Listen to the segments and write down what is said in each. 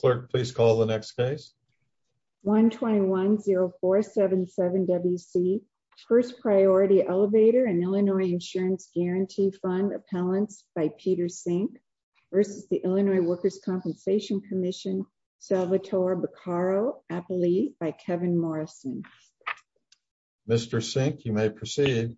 Clerk, please call the next case. 121-0477-WC First Priority Elevator and Illinois Insurance Guaranty Fund Appellants by Peter Sink versus the Illinois Workers' Compensation Commission, Salvatore Beccaro Appellee by Kevin Morrison. Mr. Sink, you may proceed.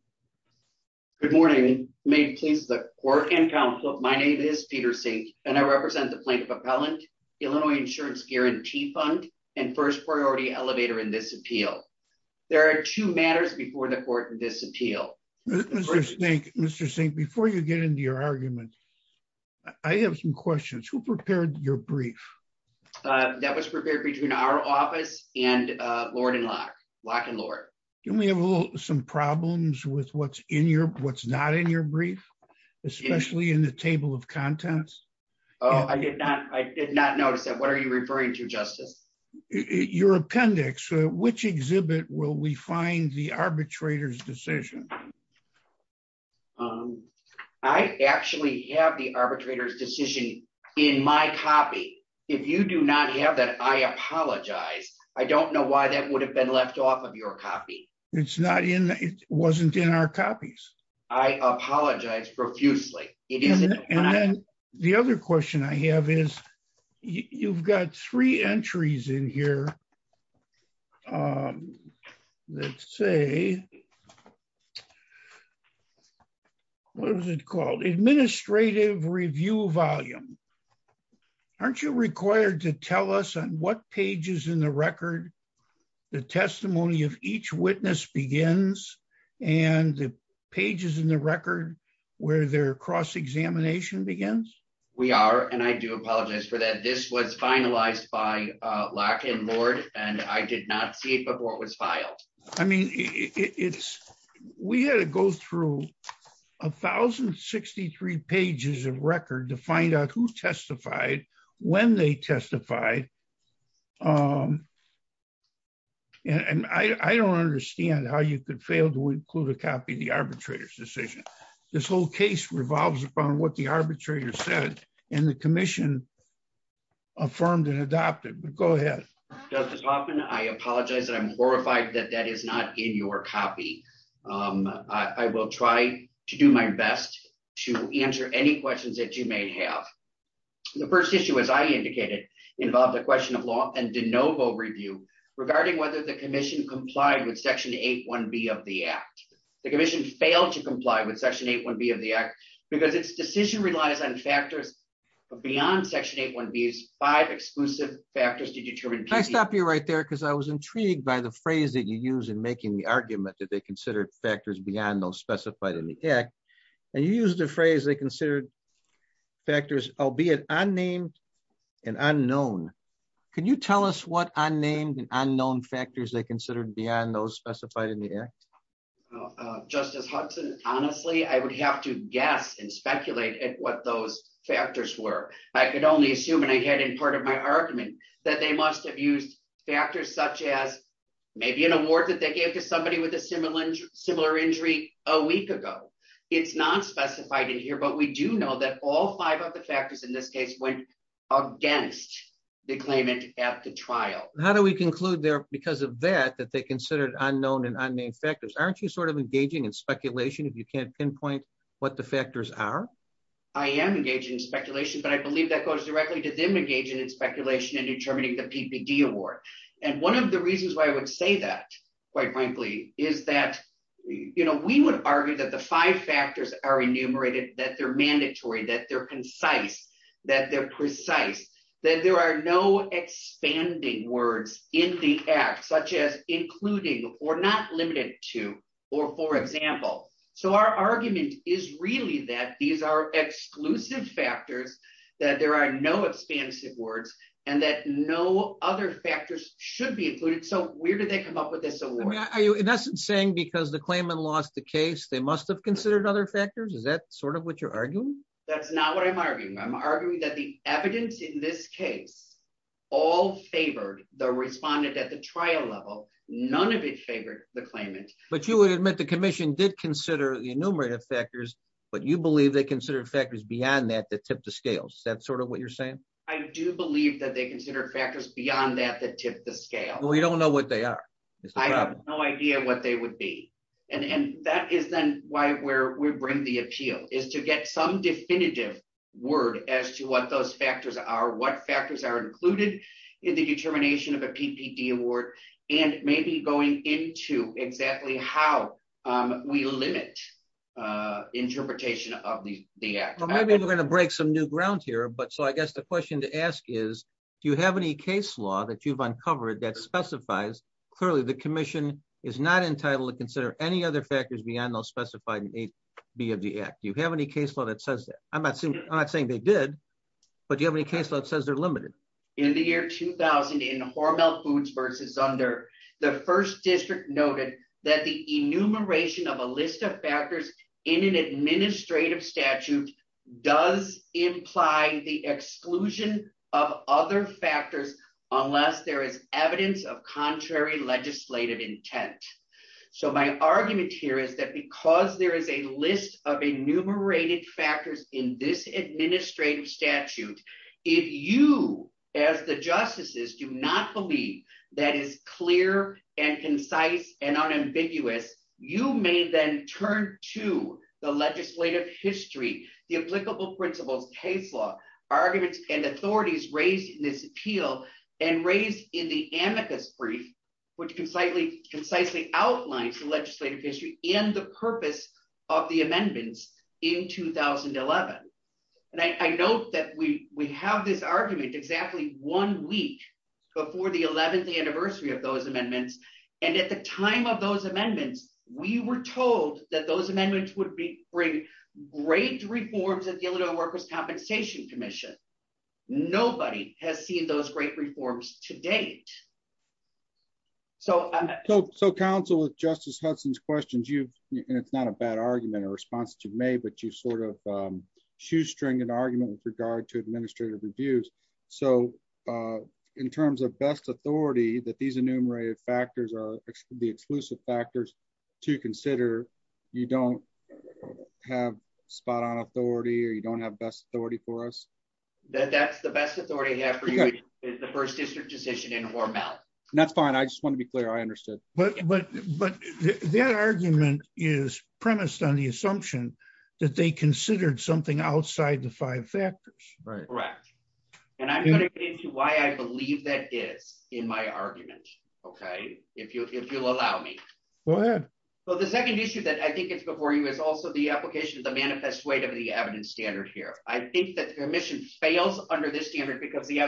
Good morning. May it please the clerk and counsel, my name is Peter Sink and I represent the Plaintiff Appellant, Illinois Insurance Guaranty Fund and First Priority Elevator in this appeal. There are two matters before the court in this appeal. Mr. Sink, before you get into your argument, I have some questions. Who prepared your brief? That was prepared between our office and Lord and Locke. Locke and Lorde. Do you have some problems with what's not in your brief, especially in the table of contents? Oh, I did not. I did not notice that. What are you referring to, Justice? Your appendix. Which exhibit will we find the arbitrator's decision? I actually have the arbitrator's decision in my copy. If you do not have that, I apologize. I don't know why that would have been left off of your copy. It's not in, it wasn't in our copies. I apologize profusely. And then the other question I have is, you've got three entries in here that say, what was it called? Administrative review volume. Aren't you required to tell us on what pages in the record the testimony of each witness begins and the pages in the record where their cross-examination begins? We are, and I do apologize for that. This was finalized by Locke and Lorde, and I did not see it before it was filed. I mean, it's, we had to go through 1,063 pages of record to find out who testified, when they testified. And I don't understand how you could fail to include a copy of the this whole case revolves upon what the arbitrator said and the commission affirmed and adopted, but go ahead. Justice Hoffman, I apologize that I'm horrified that that is not in your copy. I will try to do my best to answer any questions that you may have. The first issue, as I indicated, involved a question of law and de novo review regarding whether the commission complied with section 8-1B of the act. The commission failed to comply with section 8-1B of the act, because its decision relies on factors beyond section 8-1B's five exclusive factors to determine. Can I stop you right there? Because I was intrigued by the phrase that you use in making the argument that they considered factors beyond those specified in the act, and you use the phrase they considered factors, albeit unnamed and unknown. Can you tell us what unnamed and unknown factors they considered beyond those specified in the act? Justice Hudson, honestly, I would have to guess and speculate at what those factors were. I could only assume, and I had in part of my argument, that they must have used factors such as maybe an award that they gave to somebody with a similar injury a week ago. It's not specified in here, but we do know that all five of the factors in this case went against the claimant at the trial. How do we conclude there, because of that, that they considered unknown and unnamed factors? Aren't you sort of engaging in speculation if you can't pinpoint what the factors are? I am engaging in speculation, but I believe that goes directly to them engaging in speculation and determining the PPD award. And one of the reasons why I would say that, quite frankly, is that we would argue that the five factors are enumerated, that they're mandatory, that they're concise, that they're precise, that there are no expanding words in the act, such as including, or not limited to, or for example. So our argument is really that these are exclusive factors, that there are no expansive words, and that no other factors should be included. So where did they come up with this award? Are you, in essence, saying because the claimant lost the case, they must have considered other factors? Is that sort of what you're arguing? That's not what I'm arguing. I'm arguing that the evidence in this case all favored the trial level. None of it favored the claimant. But you would admit the commission did consider the enumerative factors, but you believe they considered factors beyond that that tipped the scales. Is that sort of what you're saying? I do believe that they considered factors beyond that that tipped the scale. We don't know what they are. I have no idea what they would be. And that is then why we bring the appeal, is to get some definitive word as to what those factors are, what factors are included in the determination of a PPD award, and maybe going into exactly how we limit interpretation of the Act. Well, maybe we're going to break some new ground here. But so I guess the question to ask is, do you have any case law that you've uncovered that specifies, clearly the commission is not entitled to consider any other factors beyond those specified in AB of the Act. Do you have any case law that says that? I'm not saying they did, but do you have any case law that says they're limited? In the year 2000 in Hormel Foods versus Zunder, the first district noted that the enumeration of a list of factors in an administrative statute does imply the exclusion of other factors unless there is evidence of contrary legislative intent. So my argument here is that because there is a list of enumerated factors in this administrative statute, if you as the justices do not believe that is clear and concise and unambiguous, you may then turn to the legislative history, the applicable principles, case law, arguments, and authorities raised in this appeal and raised in the amicus brief, which concisely outlines the legislative history and the purpose of the amendments in 2011. And I note that we have this argument exactly one week before the 11th anniversary of those amendments. And at the time of those amendments, we were told that those amendments would bring great reforms at the Illinois Workers' Compensation Commission. Nobody has seen those great reforms to date. So counsel, with Justice Hudson's questions, and it's not a bad argument or response that you've made, but you've sort of shoestrung an argument with regard to administrative reviews. So in terms of best authority that these enumerated factors are the exclusive factors to consider, you don't have spot on authority or you don't have best authority for us? That's the best authority I have for you is the first district decision in Hormel. That's fine. I just want to be clear. I understood. But that argument is premised on the assumption that they considered something outside the five factors. Correct. And I'm going to get into why I believe that is in my argument, okay, if you'll allow me. Go ahead. So the second issue that I think is before you is also the application of the manifest weight of the evidence standard here. I think that the commission fails under this standard because the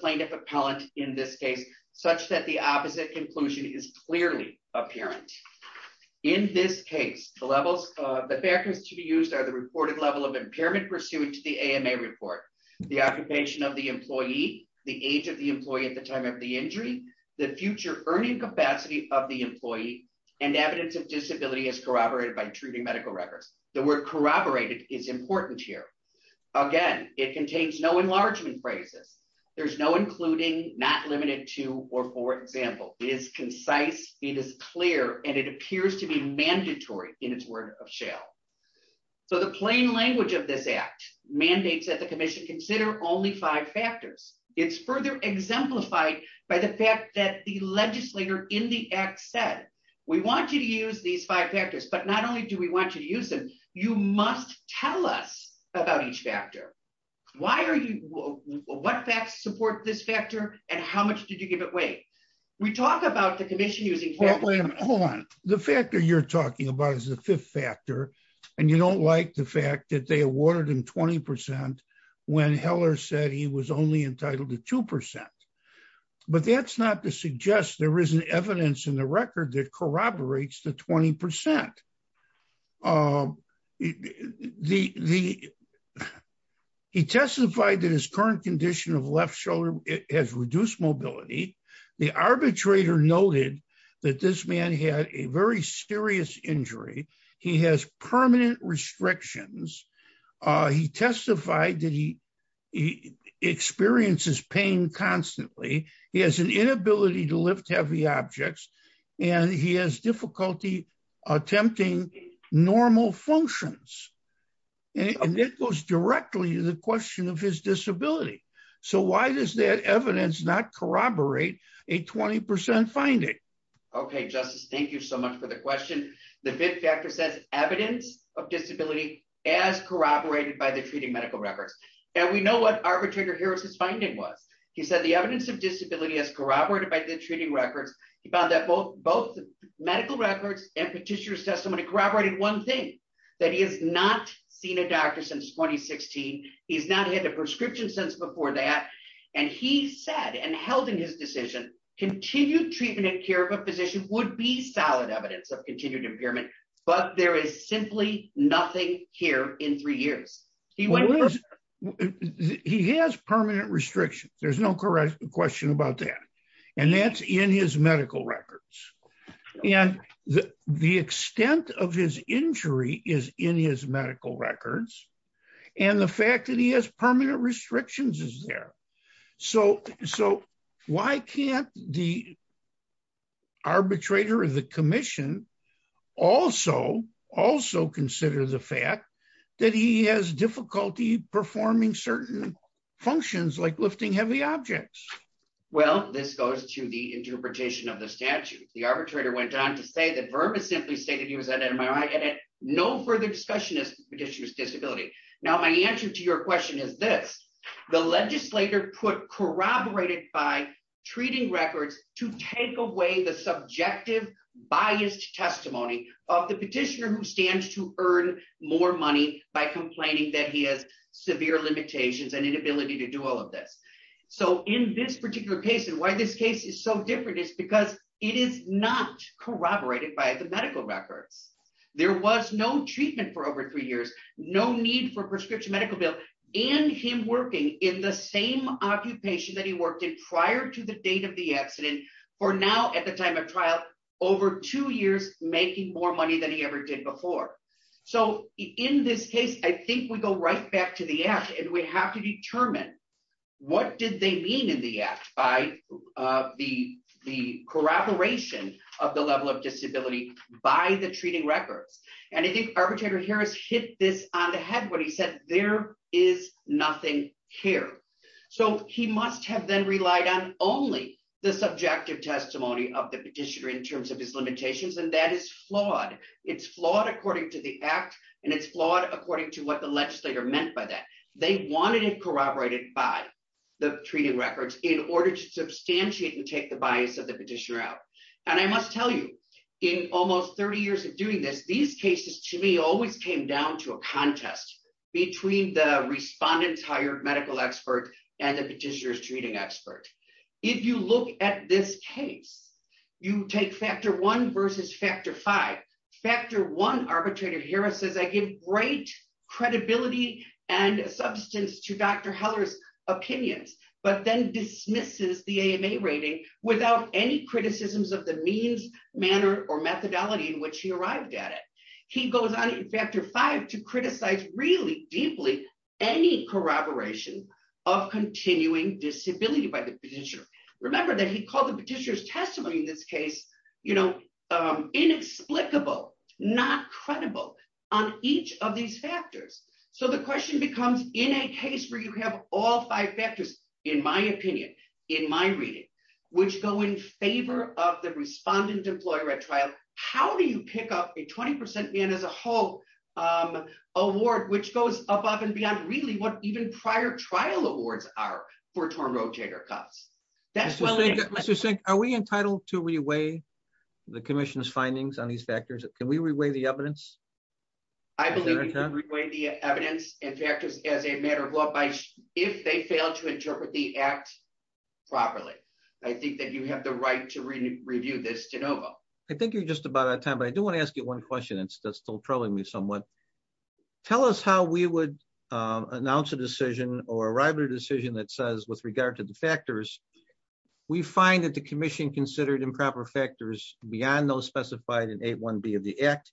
plaintiff appellant in this case, such that the opposite conclusion is clearly apparent. In this case, the levels of the backers to be used are the reported level of impairment pursuant to the AMA report, the occupation of the employee, the age of the employee at the time of the injury, the future earning capacity of the employee and evidence of disability as corroborated by treating medical records. The word corroborated is important here. Again, it contains no including not limited to, or for example, is concise. It is clear. And it appears to be mandatory in its word of shell. So the plain language of this act mandates that the commission consider only five factors. It's further exemplified by the fact that the legislator in the act said, we want you to use these five factors, but not only do we want you to use them, you must tell us about each factor. Why are you, what facts support this factor? And how much did you give it? Wait, we talk about the commission using. Hold on. The factor you're talking about is the fifth factor. And you don't like the fact that they awarded him 20% when Heller said he was only entitled to 2%. But that's not to suggest there is an evidence in the record that corroborates the 20%. He testified that his current condition of left shoulder has reduced mobility. The arbitrator noted that this man had a very serious injury. He has permanent restrictions. He testified that he experiences pain constantly. He has an inability to lift heavy objects, and he has difficulty attempting normal functions. And it goes directly to the question of his disability. So why does that evidence not corroborate a 20% finding? Okay, Justice, thank you so much for the question. The fifth factor says evidence of disability as corroborated by the treating medical records. And we know what Harris's finding was. He said the evidence of disability as corroborated by the treating records, he found that both medical records and petitioner testimony corroborated one thing, that he has not seen a doctor since 2016. He's not had a prescription since before that. And he said and held in his decision, continued treatment and care of a physician would be solid evidence of continued impairment. But there is simply nothing here in three years. He has permanent restrictions. There's no correct question about that. And that's in his medical records. And the extent of his injury is in his medical records. And the fact that he has permanent restrictions is there. So why can't the arbitrator of the commission also consider the fact that he has difficulty performing certain functions like lifting heavy objects? Well, this goes to the interpretation of the statute, the arbitrator went on to say that Verma simply stated he was an MRI and no further discussion is petitioners disability. Now, my answer to your question is this, the legislator put corroborated by treating records to take away the subjective biased testimony of the petitioner who stands to earn more money by complaining that he has severe limitations and inability to do all of this. So in this particular case, and why this case is so different is because it is not corroborated by the medical records. There was no treatment for over three years, no need for prescription medical bill, and him working in the same occupation that he worked in prior to the date of the accident for now at the time of trial over two years, making more money than he ever did before. So in this case, I think we go right back to the app and we have to determine what did they mean in the app by the corroboration of the level of disability by the treating records. And I think arbitrator Harris hit this on the head when he said there is nothing here. So he must have then relied on only the subjective testimony of the petitioner in terms of his limitations. And that is flawed. It's flawed according to the app. And it's flawed according to what the legislator meant by that. They wanted it corroborated by the treating records in order to substantiate and take the bias of the petitioner out. And I must tell you, in almost 30 years of doing this, these cases to me always came down to a contest between the respondents hired medical expert and the petitioner's treating expert. If you look at this case, you take factor one versus factor five. Factor one, arbitrator Harris says, I give great credibility and substance to Dr. Heller's opinions, but then dismisses the AMA rating without any criticisms of the means, manner, or methodology in which he arrived at it. He goes on in factor five to criticize really deeply any corroboration of continuing disability by the petitioner. Remember that he called the petitioner's testimony in this case, you know, inexplicable, not credible on each of these factors. So the question becomes in a case where you have all five factors, in my opinion, in my reading, which go in favor of the respondent employer at trial, how do you pick up a 20% in as a whole award, which goes above and beyond really what even prior trial awards are for torn rotator cuffs? That's what I think. Are we entitled to reweigh the commission's findings on these factors? Can we reweigh the evidence? I believe you can reweigh the evidence and factors as a matter of law if they fail to interpret the I think you're just about out of time, but I do want to ask you one question. That's still troubling me somewhat. Tell us how we would announce a decision or arrive at a decision that says with regard to the factors, we find that the commission considered improper factors beyond those specified in eight one B of the act.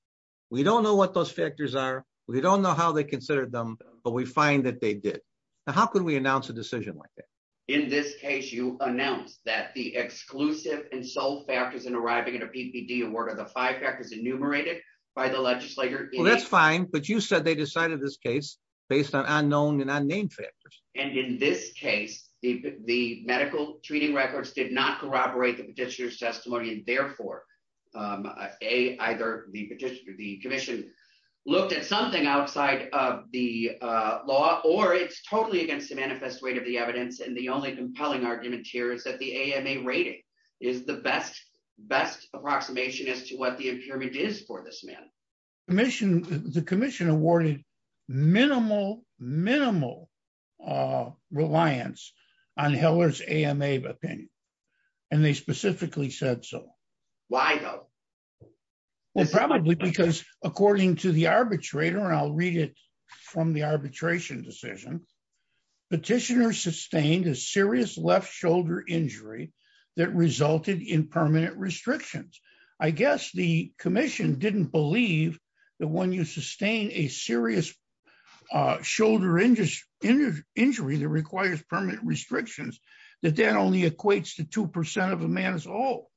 We don't know what those factors are. We don't know how they considered them, but we find that they did. Now, how could we announce a decision like that? In this case, you announced that the exclusive and sole factors in arriving at a PPD award are the five factors enumerated by the legislator. Well, that's fine. But you said they decided this case based on unknown and unnamed factors. And in this case, the medical treating records did not corroborate the petitioner's testimony. And therefore, a either the petitioner, the commission looked at something outside of the law, or it's totally against the manifest weight of the evidence. And the only compelling argument here is that the AMA rating is the best best approximation as to what the impairment is for this man. Commission, the commission awarded minimal, minimal reliance on Heller's AMA opinion. And they specifically said so. Why though? Well, probably because according to the arbitrator, and I'll read it from the arbitration decision, petitioner sustained a serious left shoulder injury that resulted in permanent restrictions. I guess the commission didn't believe that when you sustain a serious shoulder injury that requires permanent restrictions, that that only equates to 2% of a man's all.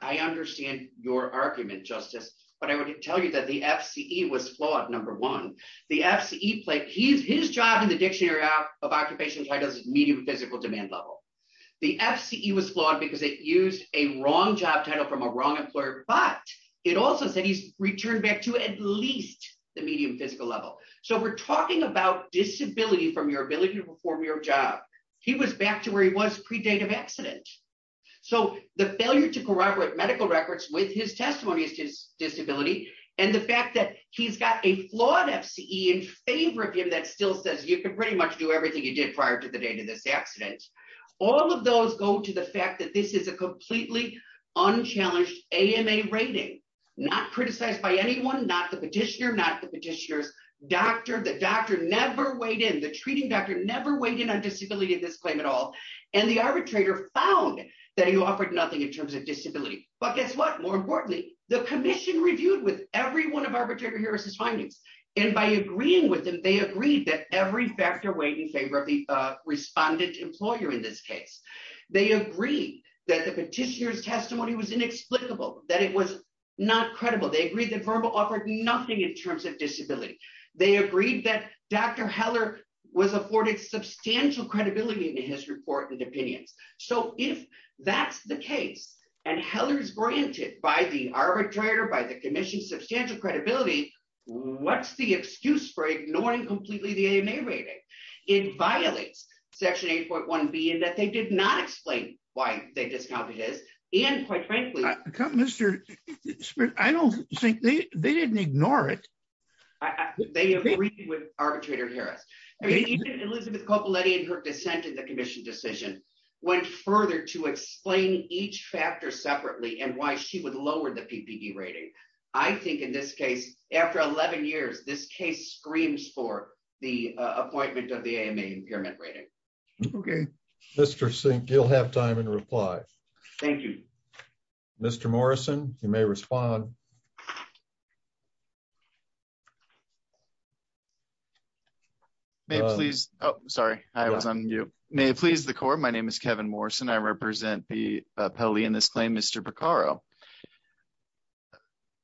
I understand your argument, Justice. But I would tell you that the FCE was in the dictionary of occupation titles, medium physical demand level. The FCE was flawed because it used a wrong job title from a wrong employer. But it also said he's returned back to at least the medium physical level. So we're talking about disability from your ability to perform your job. He was back to where he was predate of accident. So the failure to corroborate medical records with his testimony is his disability. And the fact that he's got a flawed FCE in favor of him that still says you can pretty much do everything you did prior to the date of this accident. All of those go to the fact that this is a completely unchallenged AMA rating, not criticized by anyone, not the petitioner, not the petitioner's doctor, the doctor never weighed in, the treating doctor never weighed in on disability in this claim at all. And the arbitrator found that he offered nothing in terms of disability. But guess what, more importantly, the commission reviewed with every one of arbitrator Harris's findings. And by agreeing with them, they agreed that every factor weighed in favor of the respondent employer in this case. They agreed that the petitioner's testimony was inexplicable, that it was not credible. They agreed that verbal offered nothing in terms of disability. They agreed that Dr. Heller was afforded substantial credibility in his report and opinions. So if that's the case, and Heller's granted by the arbitrator, by the commission substantial credibility, what's the excuse for ignoring completely the AMA rating? It violates section 8.1B in that they did not explain why they discounted his and quite frankly- I don't think they didn't ignore it. They agreed with arbitrator Harris. Elizabeth Coppoletti and her dissent in the commission went further to explain each factor separately and why she would lower the PPB rating. I think in this case, after 11 years, this case screams for the appointment of the AMA impairment rating. Okay. Mr. Sink, you'll have time in reply. Thank you. Mr. Morrison, you may respond. May it please- oh, sorry. I was on mute. May it please the court, my name is Kevin Morrison. I represent the appellee in this claim, Mr. Beccaro.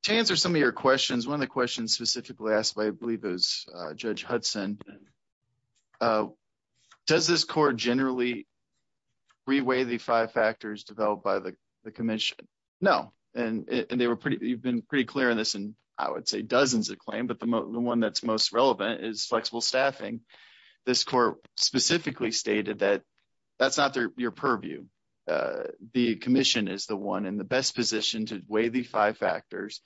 To answer some of your questions, one of the questions specifically asked by, I believe it was Judge Hudson, does this court generally re-weigh the five factors developed by the commission? No. And they were pretty- you've pretty clear on this in, I would say, dozens of claims, but the one that's most relevant is flexible staffing. This court specifically stated that that's not your purview. The commission is the one in the best position to weigh the five factors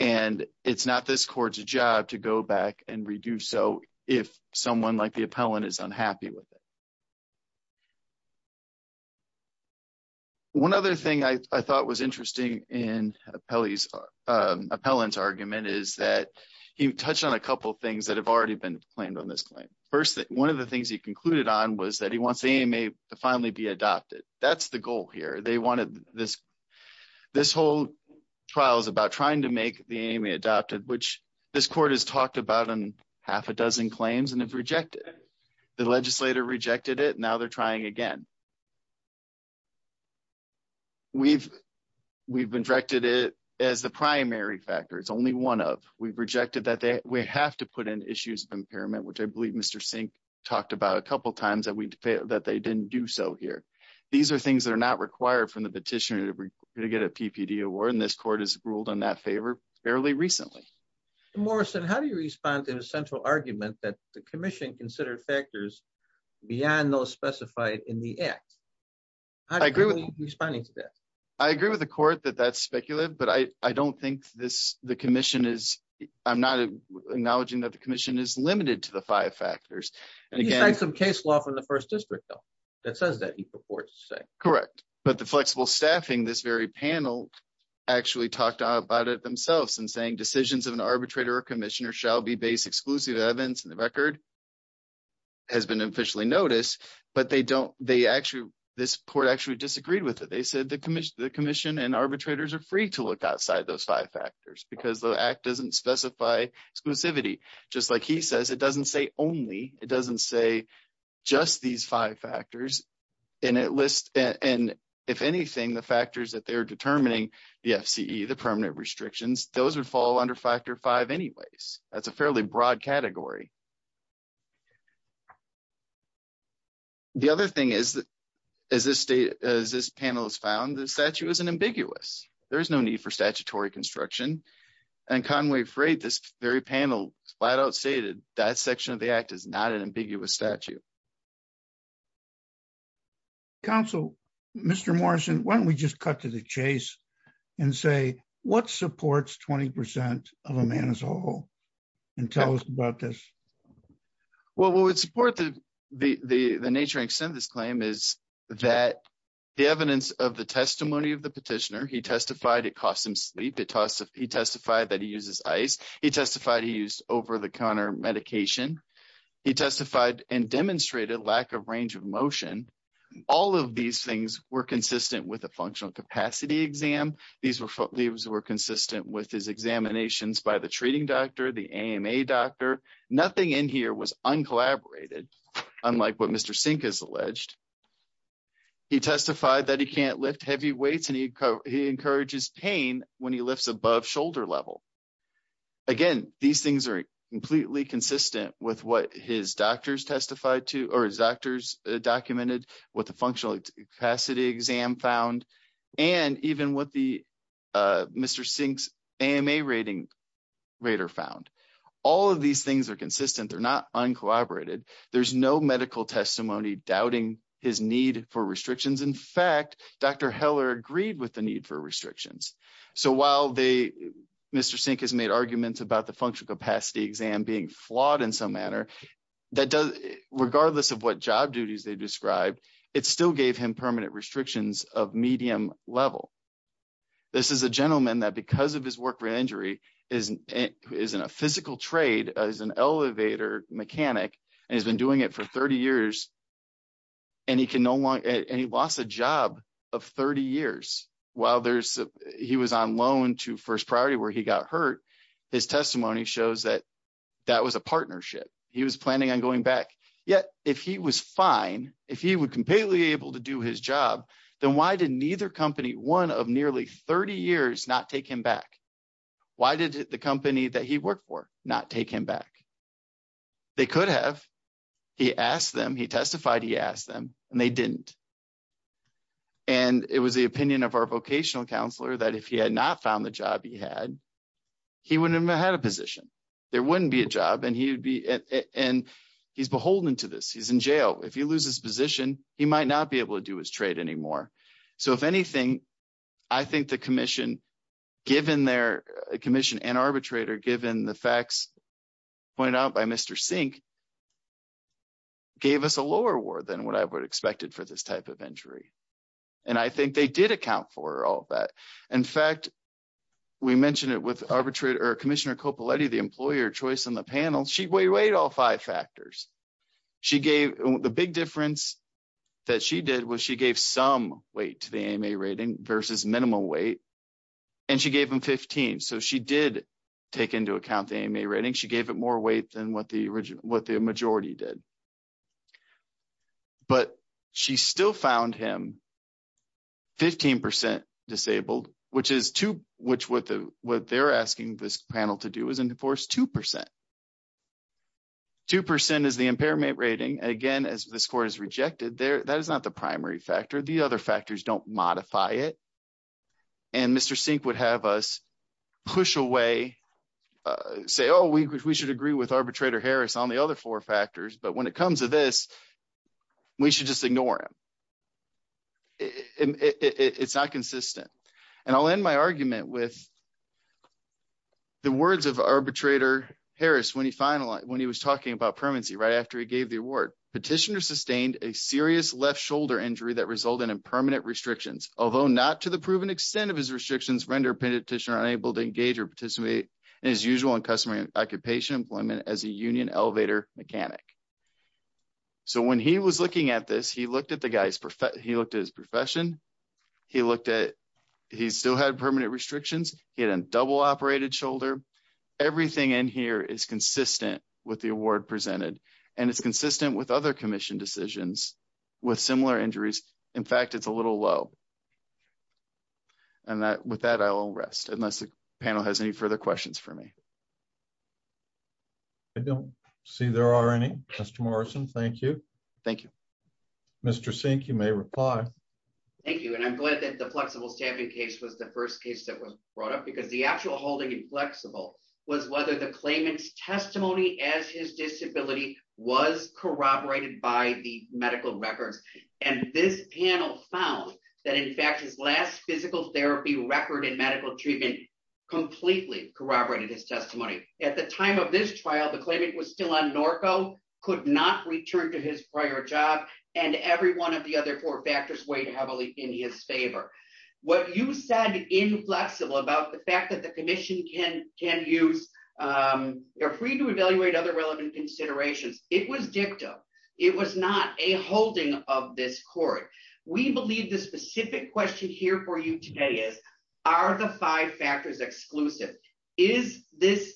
and it's not this court's job to go back and redo so if someone like the appellant is unhappy with it. One other thing I thought was in the appellant's argument is that he touched on a couple things that have already been claimed on this claim. First, one of the things he concluded on was that he wants the AMA to finally be adopted. That's the goal here. They wanted this- this whole trial is about trying to make the AMA adopted, which this court has talked about in half a dozen claims and have we've directed it as the primary factor. It's only one of. We've rejected that they- we have to put in issues of impairment, which I believe Mr. Sink talked about a couple times that we- that they didn't do so here. These are things that are not required from the petitioner to get a PPD award and this court has ruled in that favor fairly recently. Mr. Morrison, how do you respond to the central argument that the commission considered factors beyond those but I- I don't think this- the commission is- I'm not acknowledging that the commission is limited to the five factors. He signed some case law from the first district though that says that he purports to say. Correct, but the flexible staffing this very panel actually talked about it themselves and saying decisions of an arbitrator or commissioner shall be based exclusive evidence and the record has been officially noticed but they don't- they actually- this court actually disagreed with it. They said the commission- the commission arbitrators are free to look outside those five factors because the act doesn't specify exclusivity just like he says. It doesn't say only. It doesn't say just these five factors and it lists and if anything the factors that they're determining the FCE, the permanent restrictions, those would fall under factor five anyways. That's a fairly broad category. The other thing is that as this state- as this panel has found the statute is an ambiguous. There is no need for statutory construction and Conway Freight, this very panel, flat out stated that section of the act is not an ambiguous statute. Counsel, Mr. Morrison, why don't we just cut to the chase and say what supports 20 percent of a man is horrible and tell us about this? Well, what would support the nature and extent of this claim is that the evidence of the testimony of the petitioner, he testified it cost him sleep. It talks- he testified that he uses ice. He testified he used over-the-counter medication. He testified and demonstrated lack of range of motion. All of these things were consistent with a functional capacity exam. These were- these were consistent with his examinations by the treating doctor, the AMA doctor. Nothing in here was uncollaborated unlike what Mr. Sink has alleged. He testified that he can't lift heavy weights and he encourages pain when he lifts above shoulder level. Again, these things are completely consistent with what his doctors testified to or his doctors documented what the functional capacity exam found and even what the Mr. Sink's AMA rating rater found. All of these things are consistent. They're not uncollaborated. There's no medical testimony doubting his need for restrictions. In fact, Dr. Heller agreed with the need for restrictions. So while they- Mr. Sink has made arguments about the functional capacity exam being flawed in some manner, that does- regardless of what job duties they described, it still gave him permanent restrictions of medium level. This is a gentleman that because of his work injury is in a physical trade as an elevator mechanic and he's been doing it for 30 years and he can no longer- and he lost a job of 30 years while there's- he was on loan to First Priority where he got hurt. His testimony shows that that was a partnership. He was planning on able to do his job. Then why did neither company, one of nearly 30 years, not take him back? Why did the company that he worked for not take him back? They could have. He asked them. He testified. He asked them and they didn't. And it was the opinion of our vocational counselor that if he had not found the job he had, he wouldn't have had a position. There wouldn't be a job and and he's beholden to this. He's in jail. If he loses position, he might not be able to do his trade anymore. So if anything, I think the commission, given their commission and arbitrator, given the facts pointed out by Mr. Sink, gave us a lower award than what I would have expected for this type of injury. And I think they did account for all that. In fact, we mentioned it with all five factors. She gave the big difference that she did was she gave some weight to the AMA rating versus minimum weight. And she gave him 15. So she did take into account the AMA rating. She gave it more weight than what the majority did. But she still found him 15 percent disabled, which is two, which what they're asking this panel to do is enforce two percent. Two percent is the impairment rating. Again, as the score is rejected there, that is not the primary factor. The other factors don't modify it. And Mr. Sink would have us push away, say, oh, we should agree with arbitrator Harris on the other four factors. But when it comes to this, we should just ignore him. It's not consistent. And I'll end my argument with the words of arbitrator Harris when he finalized when he was talking about permanency right after he gave the award. Petitioner sustained a serious left shoulder injury that resulted in permanent restrictions, although not to the proven extent of his restrictions, render a petitioner unable to engage or participate in his usual and customary occupation employment as a union elevator mechanic. So when he was looking at this, he looked at the guy's he looked at his profession. He looked at he still had permanent restrictions. He had a double operated shoulder. Everything in here is consistent with the award presented and it's consistent with other commission decisions with similar injuries. In fact, it's a little low. And with that, I'll rest unless the panel has any further questions for me. I don't see there are any. Mr. Morrison, thank you. Thank you. Mr. Sink, you may reply. Thank you. And I'm glad that the flexible staffing case was the first case that was brought up because the actual holding inflexible was whether the claimant's testimony as his disability was corroborated by the medical records. And this panel found that in fact, his last physical therapy record in medical treatment completely corroborated his testimony. At the time of this trial, the claimant was still on Norco, could not return to his prior job. And every one of the other four factors weighed heavily in his favor. What you said inflexible about the fact that the commission can can use are free to evaluate other relevant considerations. It was dictum. It was not a holding of this court. We believe the specific question here for you today is, are the five factors exclusive? Is this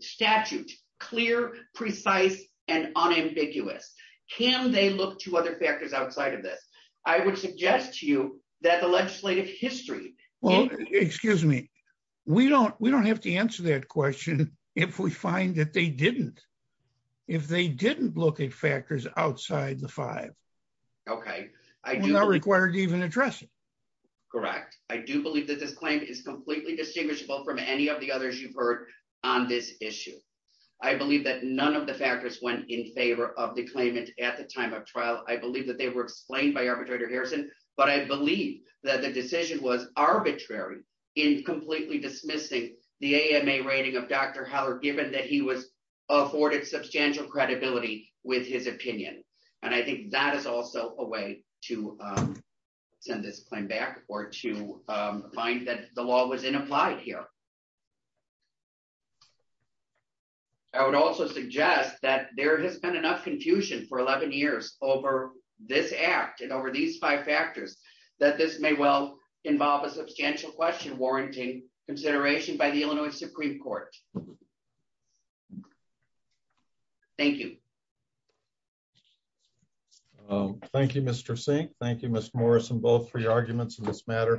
statute clear, precise and unambiguous? Can they look to other factors outside of this? I would suggest to you that the legislative history, well, excuse me, we don't we don't have to answer that question. If we find that they didn't, if they didn't look at factors outside the five, okay, I do not require to even address it. Correct. I do believe that this claim is completely distinguishable from any of the in favor of the claimant at the time of trial. I believe that they were explained by arbitrator Harrison, but I believe that the decision was arbitrary in completely dismissing the AMA rating of Dr. Howard, given that he was afforded substantial credibility with his opinion. And I think that is also a way to send this claim back or to find that the law was inapplied here. I would also suggest that there has been enough confusion for 11 years over this act and over these five factors that this may well involve a substantial question warranting consideration by the Illinois Supreme Court. Thank you. Thank you, Mr. Singh. Thank you, Ms. Morrison, both for your arguments in this matter.